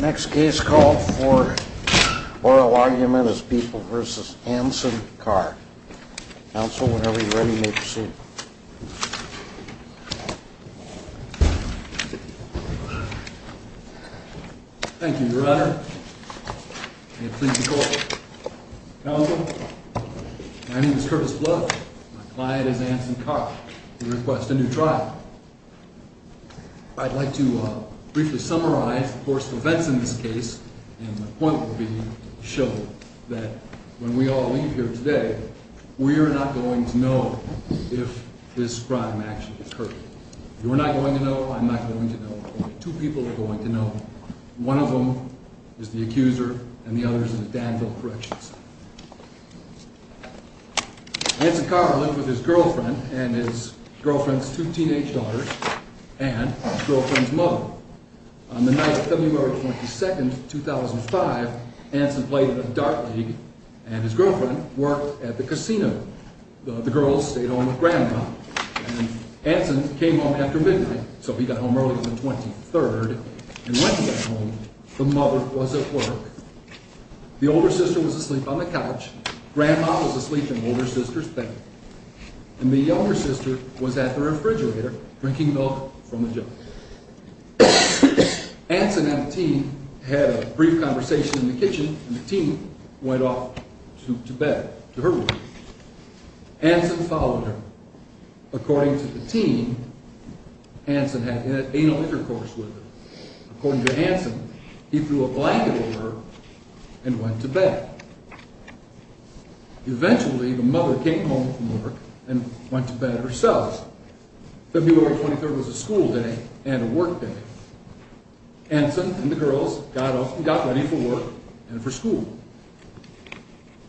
Next case called for oral argument is People v. Anson Carr. Counsel, whenever you're ready, may proceed. Thank you, Your Honor. May it please the Court. Counsel, my name is Curtis Bluff. My client is Anson Carr. We request a new trial. I'd like to briefly summarize the course of events in this case, and my point will be to show that when we all leave here today, we are not going to know if this crime actually occurred. You're not going to know. I'm not going to know. Only two people are going to know. One of them is the accuser, and the other is in the Danville Correctional Center. Anson Carr lived with his girlfriend and his girlfriend's two teenage daughters and his girlfriend's mother. On the night of February 22, 2005, Anson played at a dart league, and his girlfriend worked at the casino. The girls stayed home with Grandpa, and Anson came home after midnight, so he got home earlier than 23, and when he got home, the mother was at work. The older sister was asleep on the couch. Grandma was asleep in the older sister's bed, and the younger sister was at the refrigerator, drinking milk from a jug. Anson and the team had a brief conversation in the kitchen, and the team went off to bed, to her room. Anson followed her. According to the team, Anson had anal intercourse with her. According to Anson, he threw a blanket at her and went to bed. Eventually, the mother came home from work and went to bed herself. February 23 was a school day and a work day. Anson and the girls got up and got ready for work and for school.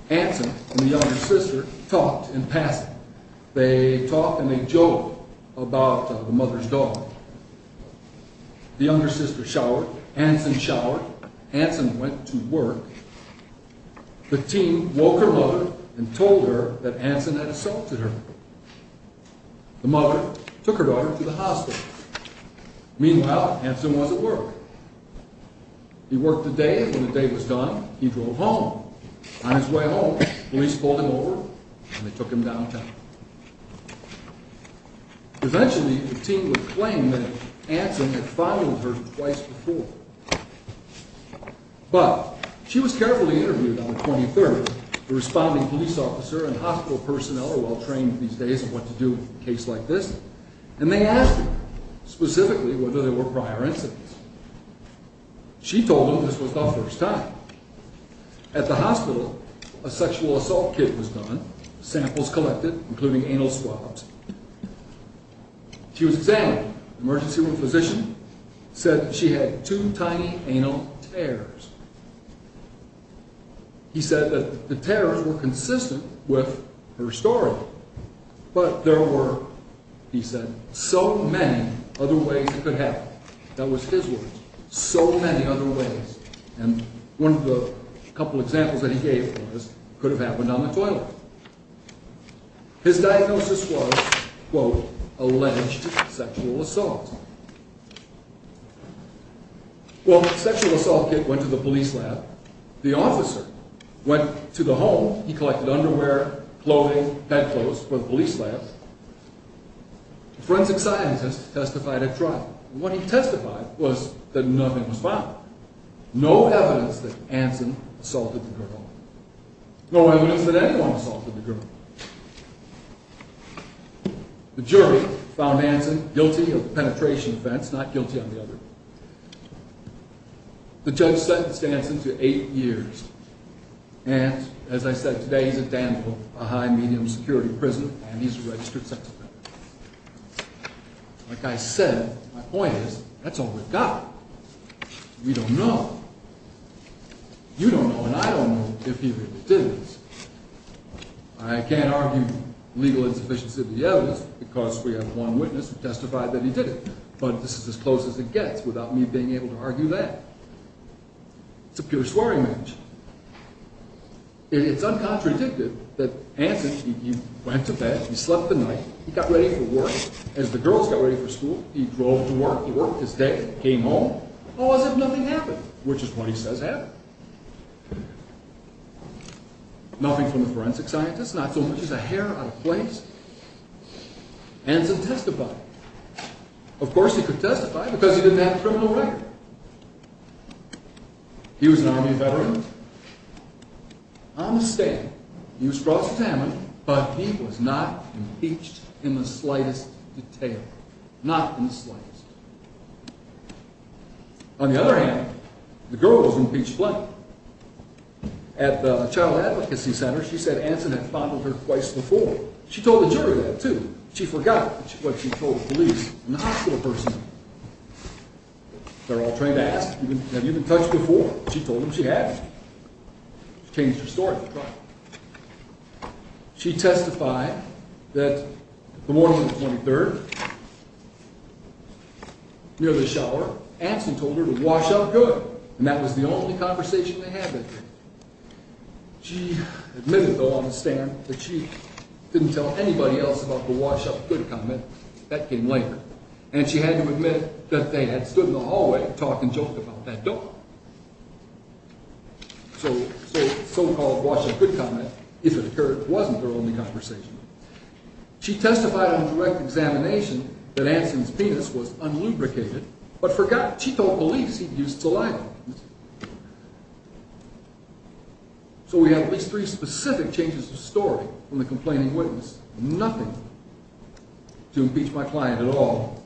Anson and the younger sister talked in passing. They talked and they joked about the mother's dog. The younger sister showered, Anson showered, Anson went to work. The team woke her mother and told her that Anson had assaulted her. The mother took her daughter to the hospital. Meanwhile, Anson was at work. He worked the day, and when the day was done, he drove home. On his way home, police pulled him over and they took him downtown. Eventually, the team would claim that Anson had followed her twice before. But, she was carefully interviewed on the 23rd. The responding police officer and hospital personnel are well trained these days on what to do in a case like this. And they asked her, specifically, whether there were prior incidents. She told them this was the first time. At the hospital, a sexual assault kit was done, samples collected, including anal swabs. She was examined. The emergency room physician said that she had two tiny anal tears. He said that the tears were consistent with her story, but there were, he said, so many other ways it could happen. That was his words, so many other ways. And one of the couple examples that he gave was, could have happened on the toilet. His diagnosis was, quote, alleged sexual assault. Well, the sexual assault kit went to the police lab. The officer went to the home. He collected underwear, clothing, bedclothes for the police lab. Forensic scientists testified at trial. What he testified was that nothing was found. No evidence that Anson assaulted the girl. No evidence that anyone assaulted the girl. The jury found Anson guilty of penetration offense, not guilty on the other. The judge sentenced Anson to eight years. And, as I said, today he's at Danville, a high-medium security prison, and he's a registered sex offender. Like I said, my point is, that's all we've got. We don't know. You don't know and I don't know if he really did this. I can't argue legal insufficiency of the evidence because we have one witness who testified that he did it, but this is as close as it gets without me being able to argue that. It's a pure soiree match. It's uncontradictive that Anson, he went to bed, he slept the night, he got ready for work. As the girls got ready for school, he drove to work. He worked his day, came home. How was it nothing happened? Which is what he says happened. Nothing from the forensic scientists, not so much as a hair out of place. Anson testified. Of course he could testify because he didn't have a criminal record. He was an Army veteran. On the stand, he was crossed examined, but he was not impeached in the slightest detail. Not in the slightest. On the other hand, the girl was impeached plainly. At the Child Advocacy Center, she said Anson had fondled her twice before. She told the jury that too. She forgot what she told the police and the hospital person. They're all trained to ask, have you been touched before? She told them she hadn't. She changed her story. She testified that the morning of the 23rd, near the shower, Anson told her to wash up good. And that was the only conversation they had that day. She admitted, though, on the stand, that she didn't tell anybody else about the wash up good comment. That came later. And she had to admit that they had stood in the hallway talking joke about that door. So the so-called wash up good comment, if it occurred, wasn't their only conversation. She testified on direct examination that Anson's penis was unlubricated, but forgot she told police he'd used saliva. So we have at least three specific changes of story from the complaining witness. Nothing to impeach my client at all.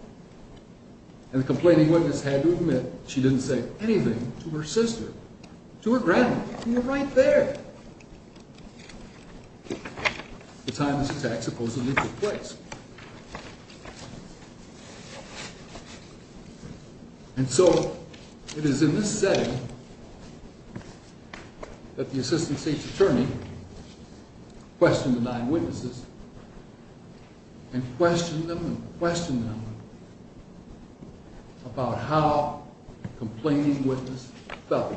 And the complaining witness had to admit she didn't say anything to her sister, to her grandmother. And you're right there. The time this attack supposedly took place. And so, it is in this setting that the assistant state's attorney questioned the nine witnesses. And questioned them and questioned them about how the complaining witness felt.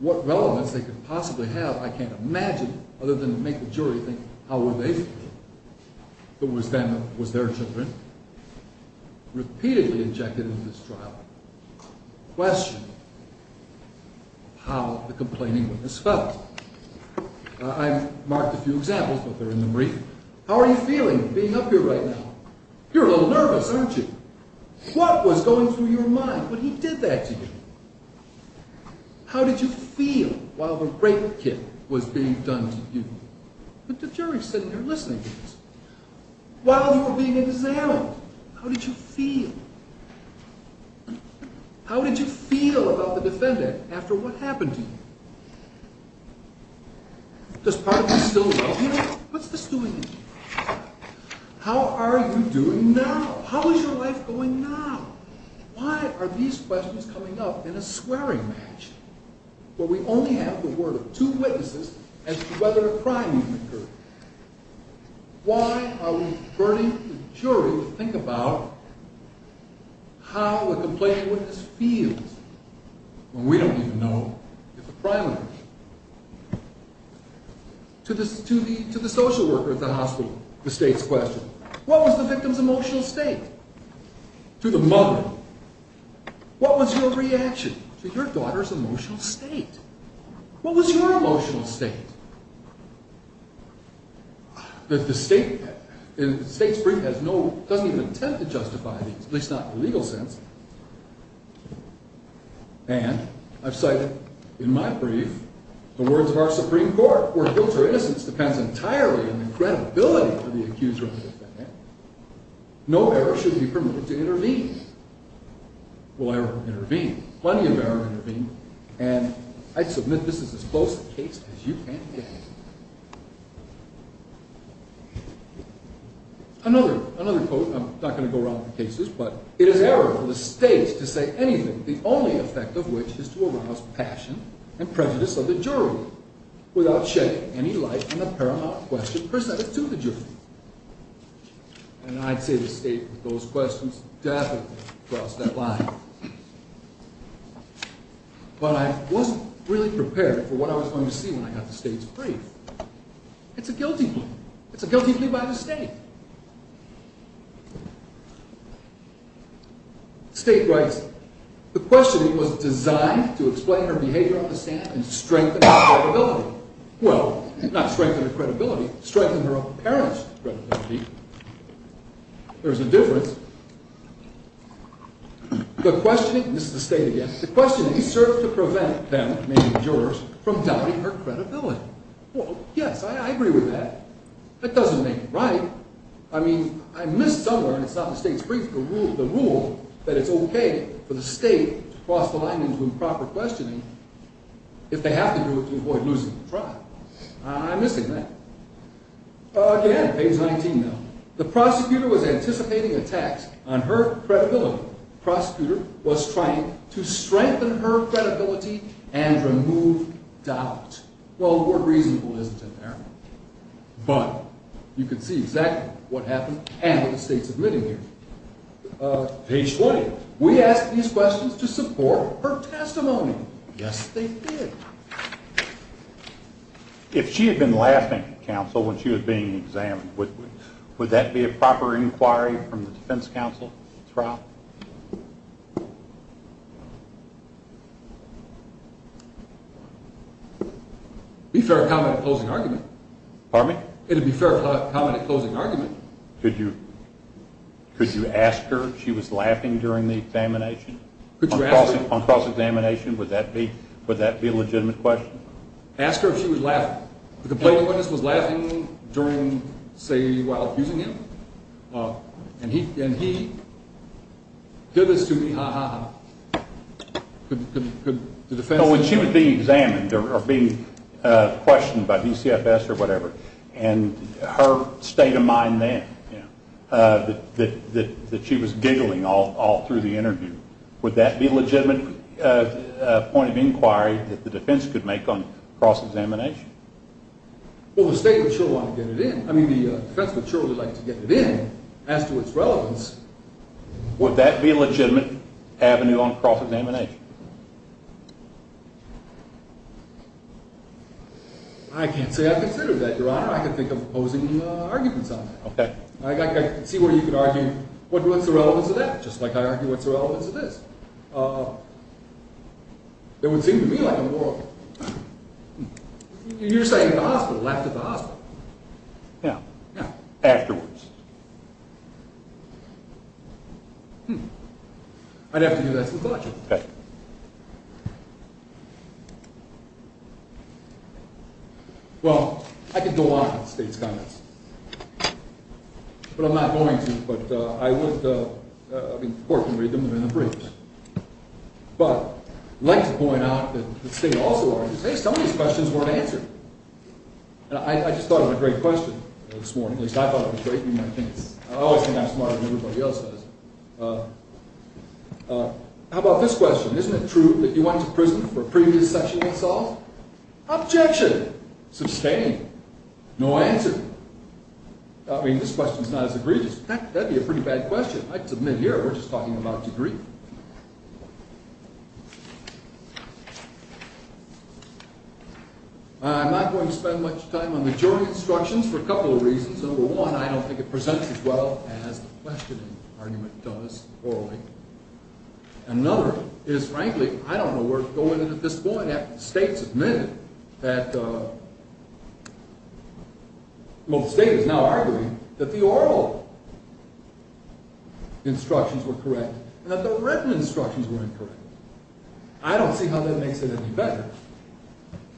What relevance they could possibly have, I can't imagine, other than to make the jury think, how were they feeling? It was them, it was their children. Repeatedly injected into this trial. Questioned how the complaining witness felt. I marked a few examples, but they're in the brief. How are you feeling being up here right now? You're a little nervous, aren't you? What was going through your mind when he did that to you? How did you feel while the rape kit was being done to you? The jury's sitting there listening to this. While you were being examined, how did you feel? How did you feel about the defendant after what happened to you? Does part of you still love him? What's this doing to you? How are you doing now? How is your life going now? Why are these questions coming up in a swearing match? Where we only have the word of two witnesses as to whether a crime even occurred. Why are we burning the jury to think about how the complaining witness feels? When we don't even know if the crime occurred. To the social worker at the hospital, the state's question. What was the victim's emotional state? To the mother, what was your reaction to your daughter's emotional state? What was your emotional state? The state's brief doesn't even attempt to justify these, at least not in the legal sense. And I've cited in my brief the words of our Supreme Court, where guilt or innocence depends entirely on the credibility of the accused or the defendant. No error should be permitted to intervene. Will error intervene? Plenty of error intervened. And I submit this is as close a case as you can get. Another quote, I'm not going to go around the cases, but It is error for the state to say anything, the only effect of which is to arouse passion and prejudice of the jury without shedding any light on the paramount question presented to the jury. And I'd say the state with those questions definitely crossed that line. But I wasn't really prepared for what I was going to see when I got the state's brief. It's a guilty plea. It's a guilty plea by the state. The state writes, the questioning was designed to explain her behavior on the stand and strengthen her credibility. Well, not strengthen her credibility, strengthen her own parents' credibility. There's a difference. The questioning, this is the state again, The questioning served to prevent them, maybe the jurors, from doubting her credibility. Well, yes, I agree with that. That doesn't make it right. I mean, I missed somewhere, and it's not the state's brief, the rule that it's okay for the state to cross the line into improper questioning if they have to do it to avoid losing the trial. I'm missing that. Again, page 19 now. The prosecutor was anticipating attacks on her credibility. The prosecutor was trying to strengthen her credibility and remove doubt. Well, the word reasonable isn't in there. But you can see exactly what happened and what the state's admitting here. Page 20. We asked these questions to support her testimony. Yes, they did. If she had been laughing, counsel, when she was being examined, would that be a proper inquiry from the defense counsel? It would be fair of comment at closing argument. Pardon me? It would be fair of comment at closing argument. Could you ask her if she was laughing during the examination? On cross-examination, would that be a legitimate question? Ask her if she was laughing. The complaint witness was laughing during, say, while accusing him. And he said this to me, ha, ha, ha. No, when she was being examined or being questioned by DCFS or whatever, and her state of mind then, that she was giggling all through the interview, would that be a legitimate point of inquiry that the defense could make on cross-examination? Well, the state would surely want to get it in. I mean, the defense would surely like to get it in as to its relevance. Would that be a legitimate avenue on cross-examination? I can't say I consider that, Your Honor. I can think of opposing arguments on that. Okay. I see where you could argue, what's the relevance of that? Just like I argue what's the relevance of this. It would seem to me like a moral... You're saying the hospital, laughed at the hospital. Yeah. Yeah. Afterwards. Hmm. I'd have to give that to the collection. Okay. Well, I could go on with the state's comments. But I'm not going to. But I would... I mean, the court can read them. They're in the briefs. But I'd like to point out that the state also argues, hey, some of these questions weren't answered. I just thought of a great question this morning. At least, I thought it was great. I always think I'm smarter than everybody else is. How about this question? Isn't it true that you went to prison for a previous sexual assault? Objection! Sustained. No answer. I mean, this question's not as egregious. Heck, that'd be a pretty bad question. I'd submit here, we're just talking about degree. I'm not going to spend much time on the jury instructions for a couple of reasons. Number one, I don't think it presents as well as the questioning argument does orally. Another is, frankly, I don't know where to go with it at this point after the state's admitted that... Well, the state is now arguing that the oral instructions were correct and that the written instructions were incorrect. I don't see how that makes it any better.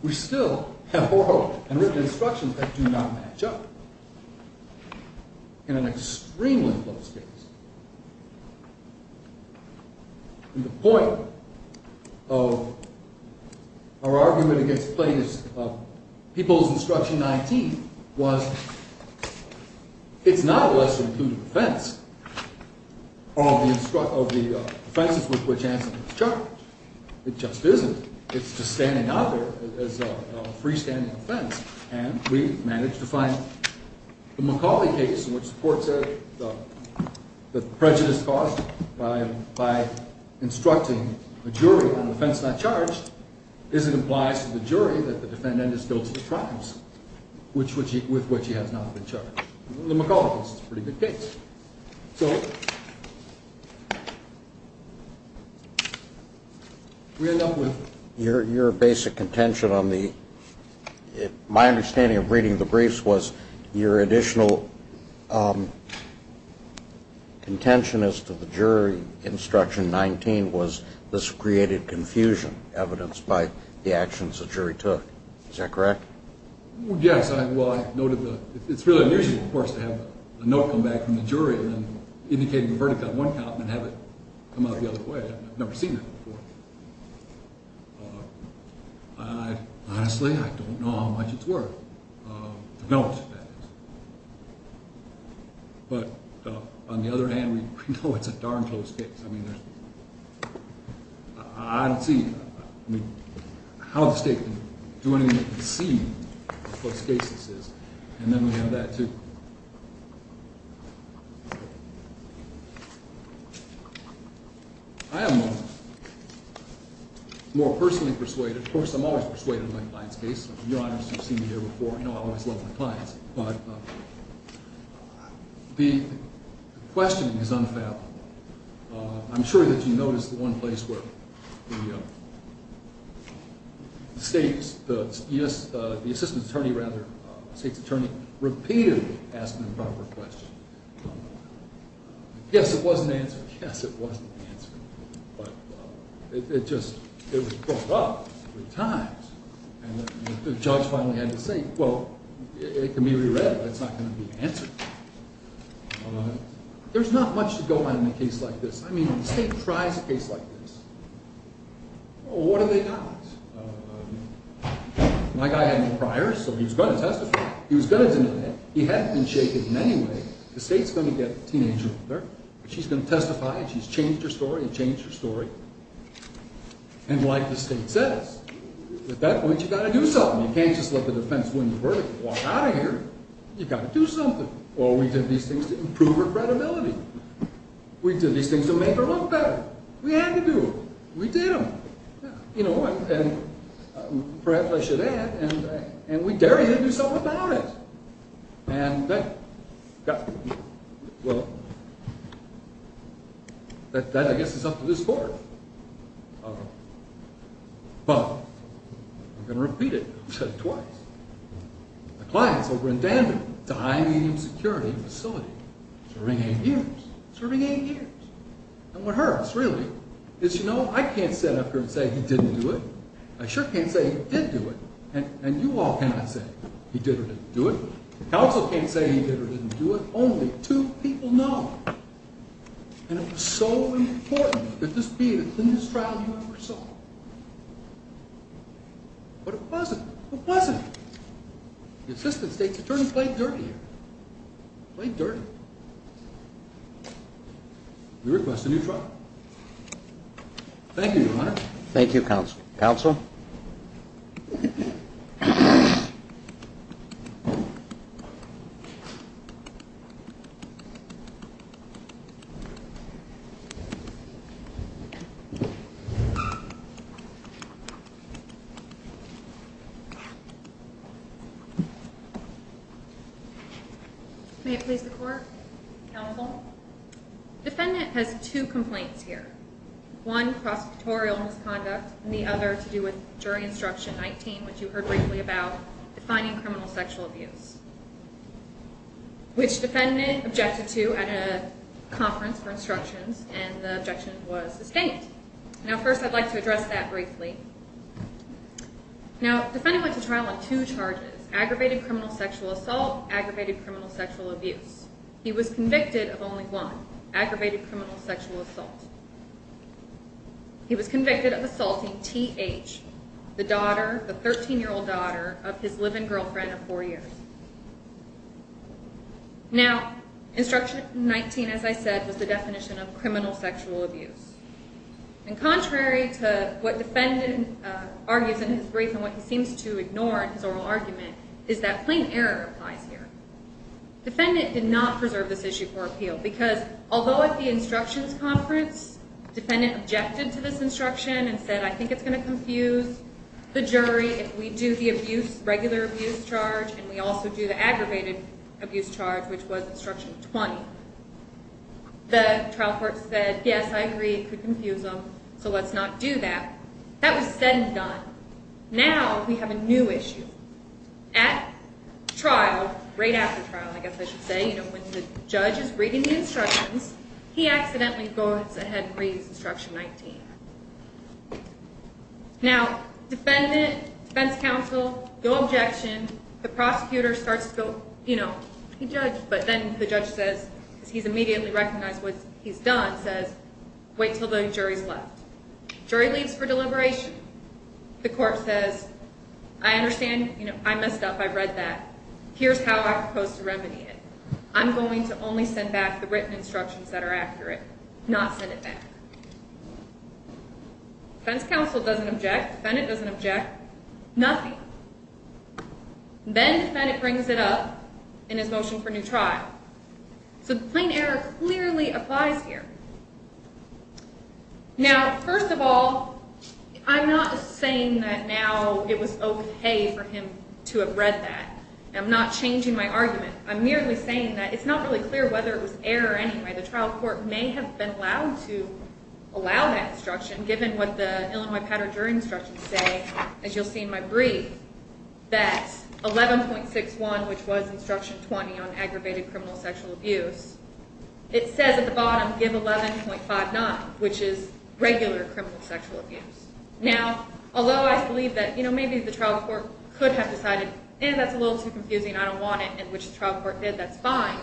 We still have oral and written instructions that do not match up in an extremely close case. And the point of our argument against people's instruction 19 was it's not a lesser-included offence of the offences with which Anson was charged. It just isn't. It's just standing out there as a freestanding offence, and we've managed to find the McCauley case, in which the court said that the prejudice caused by instructing a jury on an offence not charged isn't implies to the jury that the defendant is guilty of crimes, with which he has not been charged. The McCauley case is a pretty good case. So we end up with... Your basic contention on the... My understanding of reading the briefs was your additional contention as to the jury instruction 19 was this created confusion, evidenced by the actions the jury took. Is that correct? Yes. Well, I noted the... It's really unusual, of course, to have a note come back from the jury and then indicating a verdict on one count and then have it come out the other way. I've never seen that before. Honestly, I don't know how much it's worth. The note, that is. But on the other hand, we know it's a darn close case. I don't see... I don't see how the state can do anything to deceive what close case this is. And then we have that, too. I am more personally persuaded... Of course, I'm always persuaded in my clients' case. Your Honours, you've seen me here before. You know I always love my clients. But the questioning is unfathomable. I'm sure that you noticed the one place where the state's... The assistant attorney, rather, state's attorney, repeatedly asked an improper question. Yes, it was an answer. Yes, it was an answer. But it just... It was brought up three times. And the judge finally had to say, well, it can be re-read, but it's not going to be answered. There's not much to go on in a case like this. I mean, if the state tries a case like this, what have they got? My guy had no prior, so he was going to testify. He was going to do that. He hadn't been shaken in any way. The state's going to get a teenager. She's going to testify. She's changed her story. It changed her story. And like the state says, at that point, you've got to do something. You can't just let the defense win the verdict and walk out of here. You've got to do something. Well, we did these things to improve her credibility. We did these things to make her look better. We had to do it. We did them. You know, and perhaps I should add, and we dared her to do something about it. And that... Well... That, I guess, is up to this court. But... I'm going to repeat it. I've said it twice. The clients over in Danbury, high and medium security facility, serving eight years. Serving eight years. And what hurts, really, is, you know, I can't sit up here and say he didn't do it. I sure can't say he did do it. And you all cannot say he did or didn't do it. The counsel can't say he did or didn't do it. Only two people know. And it was so important that this be the cleanest trial you ever saw. But it wasn't. It wasn't. The assistant state's attorney played dirty here. Played dirty. We request a new trial. Thank you, Your Honor. Thank you, counsel. Counsel? Counsel? May it please the court? Counsel? Defendant has two complaints here. One, prosecutorial misconduct. And the other to do with jury instruction 19, which you heard briefly about, defining criminal sexual abuse. Which defendant objected to at a conference for instructions, and the objection was sustained. Now, first I'd like to address that briefly. Now, defendant went to trial on two charges. Aggravated criminal sexual assault. Aggravated criminal sexual abuse. He was convicted of only one. Aggravated criminal sexual assault. He was convicted of assaulting T.H., the daughter, the 13-year-old daughter, of his live-in girlfriend of four years. Now, instruction 19, as I said, was the definition of criminal sexual abuse. And contrary to what defendant argues in his brief and what he seems to ignore in his oral argument, is that plain error applies here. Defendant did not preserve this issue for appeal because although at the instructions conference defendant objected to this instruction and said, I think it's going to confuse the jury if we do the abuse, regular abuse charge, and we also do the aggravated abuse charge, which was instruction 20, the trial court said, yes, I agree, it could confuse them, so let's not do that. That was said and done. Now we have a new issue. At trial, right after trial, I guess I should say, when the judge is reading the instructions, he accidentally goes ahead and reads instruction 19. Now, defendant, defense counsel, go objection. The prosecutor starts to go, you know, he judged, but then the judge says, because he's immediately recognized what he's done, says, wait until the jury's left. Jury leaves for deliberation. The court says, I understand, you know, I messed up, I've read that, here's how I propose to remedy it. I'm going to only send back the written instructions that are accurate, not send it back. Defense counsel doesn't object, defendant doesn't object, nothing. Then defendant brings it up in his motion for new trial. So the plain error clearly applies here. Now, first of all, I'm not saying that now it was okay for him to have read that. I'm not changing my argument. I'm merely saying that it's not really clear whether it was error anyway. The trial court may have been allowed to allow that instruction, given what the Illinois-Padre jury instructions say, as you'll see in my brief, that 11.61, which was instruction 20 on aggravated criminal sexual abuse, it says at the bottom, give 11.59, which is regular criminal sexual abuse. Now, although I believe that, you know, maybe the trial court could have decided, eh, that's a little too confusing, I don't want it, in which the trial court did, that's fine,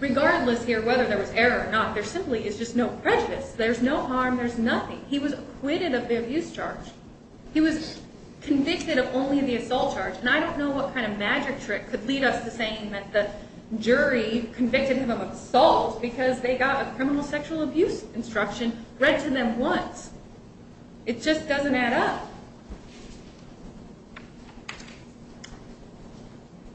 regardless here whether there was error or not, there simply is just no prejudice. There's no harm, there's nothing. He was acquitted of the abuse charge. He was convicted of only the assault charge, and I don't know what kind of magic trick could lead us to saying that the jury convicted him of assault because they got a criminal sexual abuse instruction read to them once. It just doesn't add up.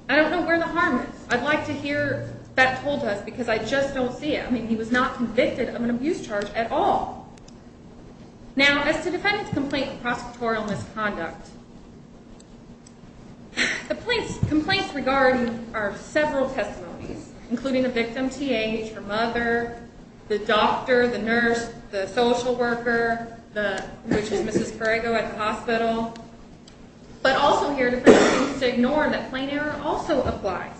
I don't know where the harm is. I'd like to hear that told us, because I just don't see it. I mean, he was not convicted of an abuse charge at all. Now, as to defendant's complaint of prosecutorial misconduct, the complaints regarded are several testimonies, including the victim, TH, her mother, the doctor, the nurse, the social worker, which is Mrs. Corrego at the hospital. But also here, defendant seems to ignore that plain error also applies.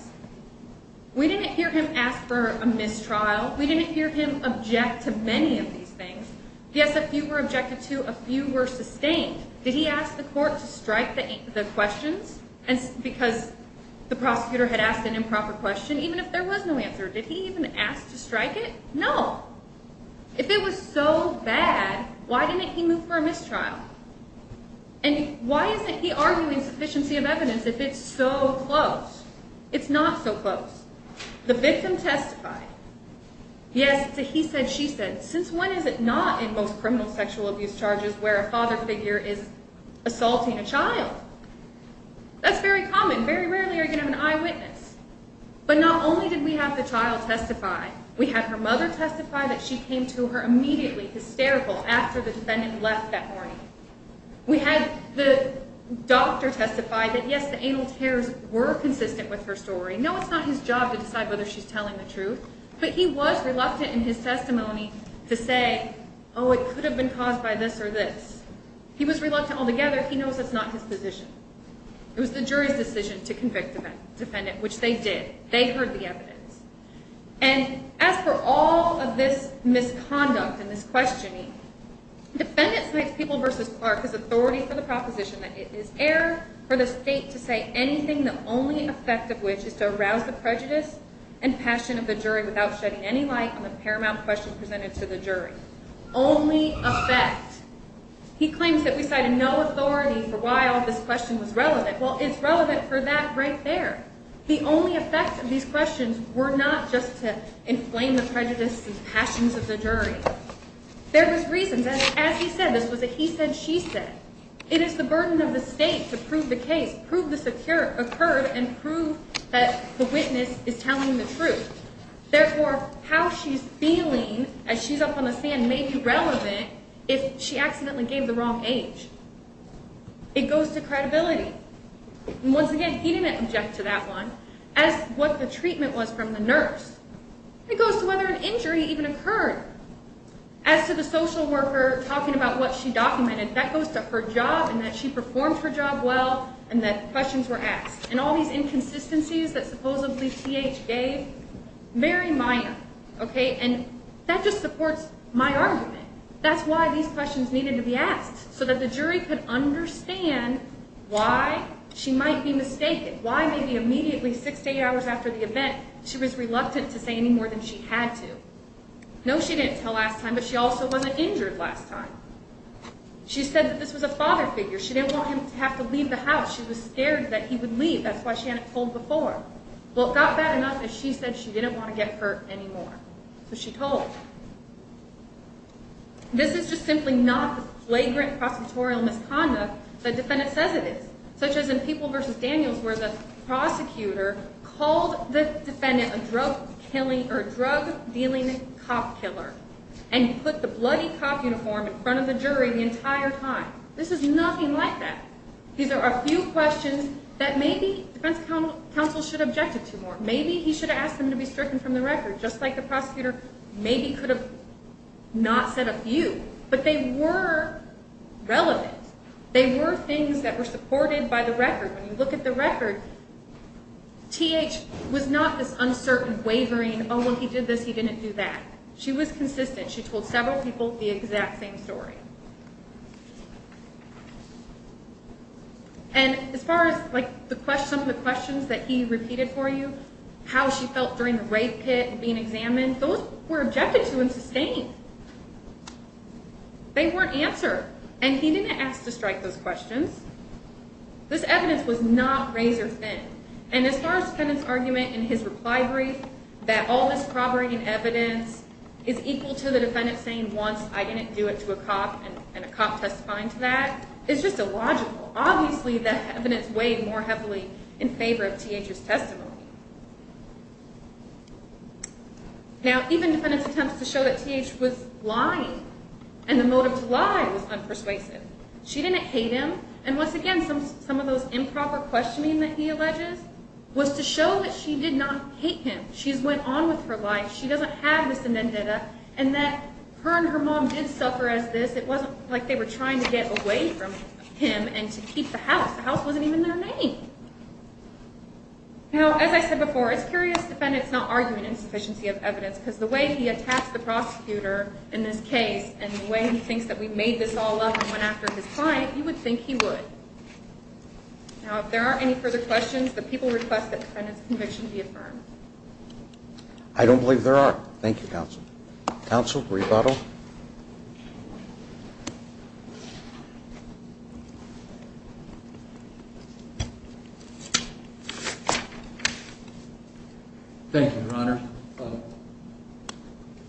We didn't hear him ask for a mistrial. We didn't hear him object to many of these things. Yes, a few were objected to, a few were sustained. Did he ask the court to strike the questions because the prosecutor had asked an improper question, even if there was no answer? Did he even ask to strike it? No. If it was so bad, why didn't he move for a mistrial? And why isn't he arguing sufficiency of evidence if it's so close? It's not so close. The victim testified. Yes, it's a he said, she said. Since when is it not in most criminal sexual abuse charges where a father figure is assaulting a child? That's very common. Very rarely are you going to have an eyewitness. But not only did we have the child testify, we had her mother testify that she came to her immediately hysterical after the defendant left that morning. We had the doctor testify that, yes, the anal tears were consistent with her story. No, it's not his job to decide whether she's telling the truth. But he was reluctant in his testimony to say, oh, it could have been caused by this or this. He was reluctant altogether. He knows that's not his position. It was the jury's decision to convict the defendant, which they did. They heard the evidence. And as for all of this misconduct and this questioning, defendants make people versus Clark as authority for the proposition that it is air for the state to say anything, the only effect of which is to arouse the prejudice and passion of the jury without shedding any light on the paramount question presented to the jury. Only effect. He claims that we cited no authority for why all of this question was relevant. Well, it's relevant for that right there. The only effect of these questions were not just to inflame the prejudice and passions of the jury. There was reason. As he said, this was a he said, she said. It is the burden of the state to prove the case, prove this occurred and prove that the witness is telling the truth. Therefore, how she's feeling as she's up on the stand may be relevant if she accidentally gave the wrong age. It goes to credibility. And once again, he didn't object to that one. As what the treatment was from the nurse. It goes to whether an injury even occurred. As to the social worker talking about what she documented, that goes to her job and that she performed her job well and that questions were asked. And all these inconsistencies that supposedly T.H. gave, very minor. And that just supports my argument. That's why these questions needed to be asked, so that the jury could understand why she might be mistaken, why maybe immediately six to eight hours after the event she was reluctant to say any more than she had to. No, she didn't tell last time, but she also wasn't injured last time. She said that this was a father figure. She didn't want him to have to leave the house. She was scared that he would leave. That's why she hadn't told before. Well, it got bad enough that she said she didn't want to get hurt anymore. So she told. This is just simply not the flagrant prosecutorial misconduct the defendant says it is. Such as in People v. Daniels where the prosecutor called the defendant a drug-dealing cop killer and put the bloody cop uniform in front of the jury the entire time. This is nothing like that. These are a few questions that maybe the defense counsel should have objected to more. Maybe he should have asked them to be stricken from the record, just like the prosecutor maybe could have not said a few. But they were relevant. They were things that were supported by the record. When you look at the record, T.H. was not this uncertain, wavering, oh, well, he did this, he didn't do that. She was consistent. She told several people the exact same story. And as far as some of the questions that he repeated for you, how she felt during the rape hit and being examined, those were objected to and sustained. They weren't answered. And he didn't ask to strike those questions. This evidence was not razor-thin. And as far as the defendant's argument in his reply brief, that all this corroborating evidence is equal to the defendant saying once, I didn't do it to a cop and a cop testifying to that, it's just illogical. Obviously, the evidence weighed more heavily in favor of T.H.'s testimony. Now, even defendants' attempts to show that T.H. was lying and the motive to lie was unpersuasive. She didn't hate him. And once again, some of those improper questioning that he alleges was to show that she did not hate him. She's went on with her life. She doesn't have this vendetta and that her and her mom did suffer as this. It wasn't like they were trying to get away from him and to keep the house. The house wasn't even their name. Now, as I said before, it's curious defendants not arguing insufficiency of evidence because the way he attacks the prosecutor in this case and the way he thinks that we made this all up and went after his client, you would think he would. Now, if there are any further questions, the people request that the defendant's conviction be affirmed. I don't believe there are. Thank you, counsel. Counsel, rebuttal. Thank you, Your Honor.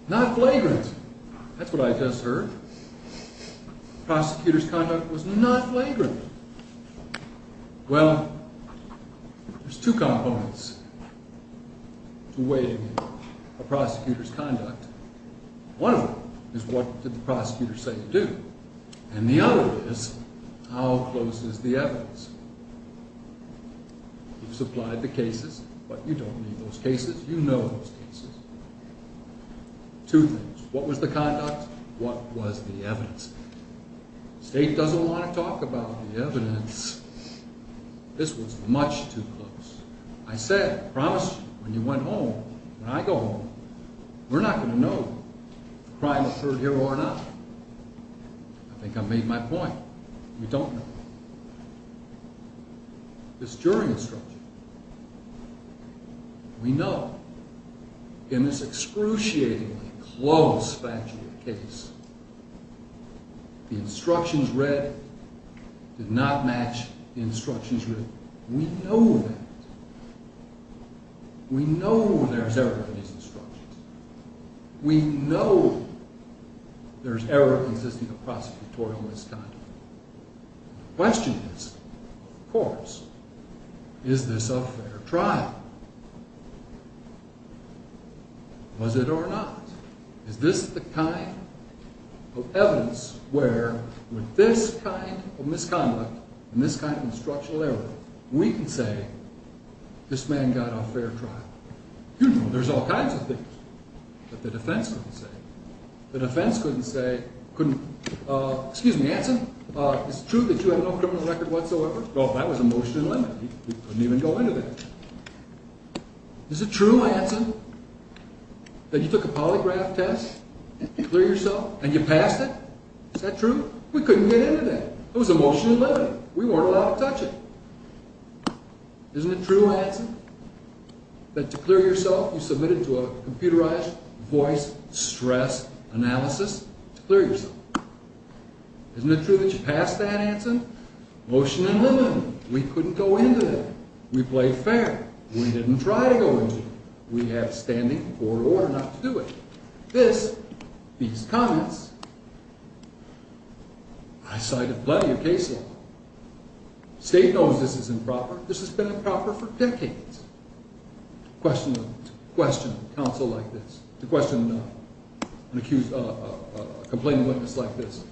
Not flagrant. That's what I just heard. Prosecutor's conduct was not flagrant. Well, there's two components to weighing a prosecutor's conduct. One of them is what did the prosecutor say to do? And the other is how close is the evidence? You've supplied the cases, but you don't need those cases. You know those cases. Two things. What was the conduct? What was the evidence? The state doesn't want to talk about the evidence. This was much too close. I said, I promised you when you went home and I go home, we're not going to know if the crime occurred here or not. I think I made my point. We don't know. This jury instruction. We know. In this excruciatingly close factual case, the instructions read did not match the instructions written. We know that. We know there's error in these instructions. We know there's error consisting of prosecutorial misconduct. The question is, of course, is this a fair trial? Was it or not? Is this the kind of evidence where with this kind of misconduct and this kind of instructional error, we can say this man got a fair trial? You know, there's all kinds of things that the defense couldn't say. The defense couldn't say, excuse me, Hanson, is it true that you have no criminal record whatsoever? Well, that was a motion in limited. We couldn't even go into that. Is it true, Hanson, that you took a polygraph test to clear yourself and you passed it? Is that true? We couldn't get into that. It was a motion in limited. We weren't allowed to touch it. Isn't it true, Hanson, that to clear yourself, you submitted to a computerized voice stress analysis to clear yourself? Isn't it true that you passed that, Hanson? Motion in limited. We couldn't go into that. We played fair. We didn't try to go into it. We have standing in court order not to do it. This, these comments, I cited plenty of case law. The state knows this is improper. This has been improper for decades. To question counsel like this, to question an accused, a complaining witness like this,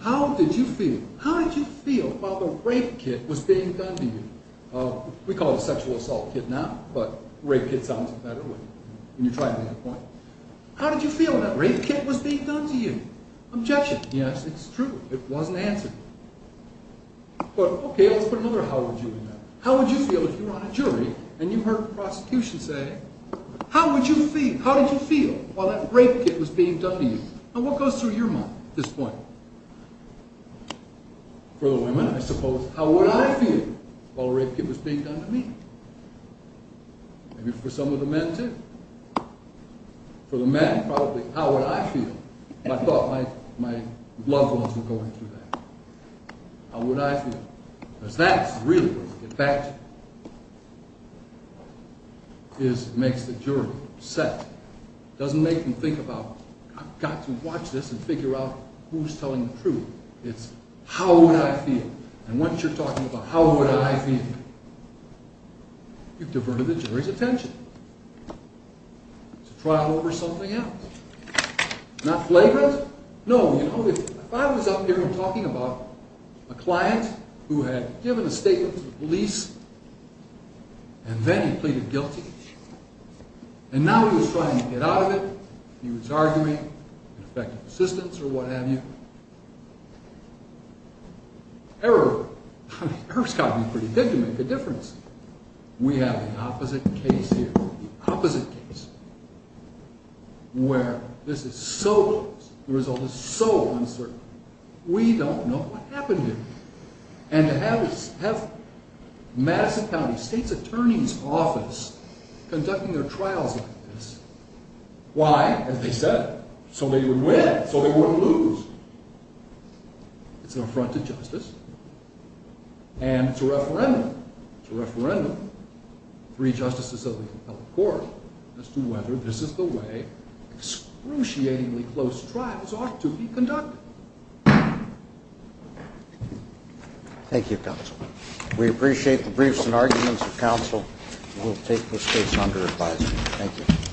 how did you feel? How did you feel while the rape kit was being done to you? We call it a sexual assault kit now, but rape kit sounds better when you try to make a point. How did you feel when that rape kit was being done to you? Objection. Yes, it's true. It wasn't answered. But, okay, let's put another how would you in there. How would you feel if you were on a jury and you heard the prosecution say, how did you feel while that rape kit was being done to you? Now, what goes through your mind at this point? For the women, I suppose, how would I feel while a rape kit was being done to me? Maybe for some of the men, too. For the men, probably, how would I feel? I thought my loved ones were going through that. How would I feel? Because that really, in fact, makes the jury upset. It doesn't make them think about, I've got to watch this and figure out who's telling the truth. It's how would I feel. And once you're talking about how would I feel, you've diverted the jury's attention. It's a trial over something else. Not flagrant. No, you know, if I was up here and talking about a client, who had given a statement to the police, and then he pleaded guilty, and now he was trying to get out of it, he was arguing, effective assistance or what have you. Error. Error's got to be pretty good to make a difference. We have the opposite case here. The opposite case. Where this is so, the result is so uncertain. We don't know what happened here. And to have Madison County State's Attorney's Office conducting their trials like this, why, as they said, so they would win, so they wouldn't lose. It's an affront to justice, and it's a referendum. It's a referendum. Three justices of the appellate court as to whether this is the way close trials ought to be conducted. Thank you, counsel. We appreciate the briefs and arguments of counsel. We'll take this case under advisement. Thank you.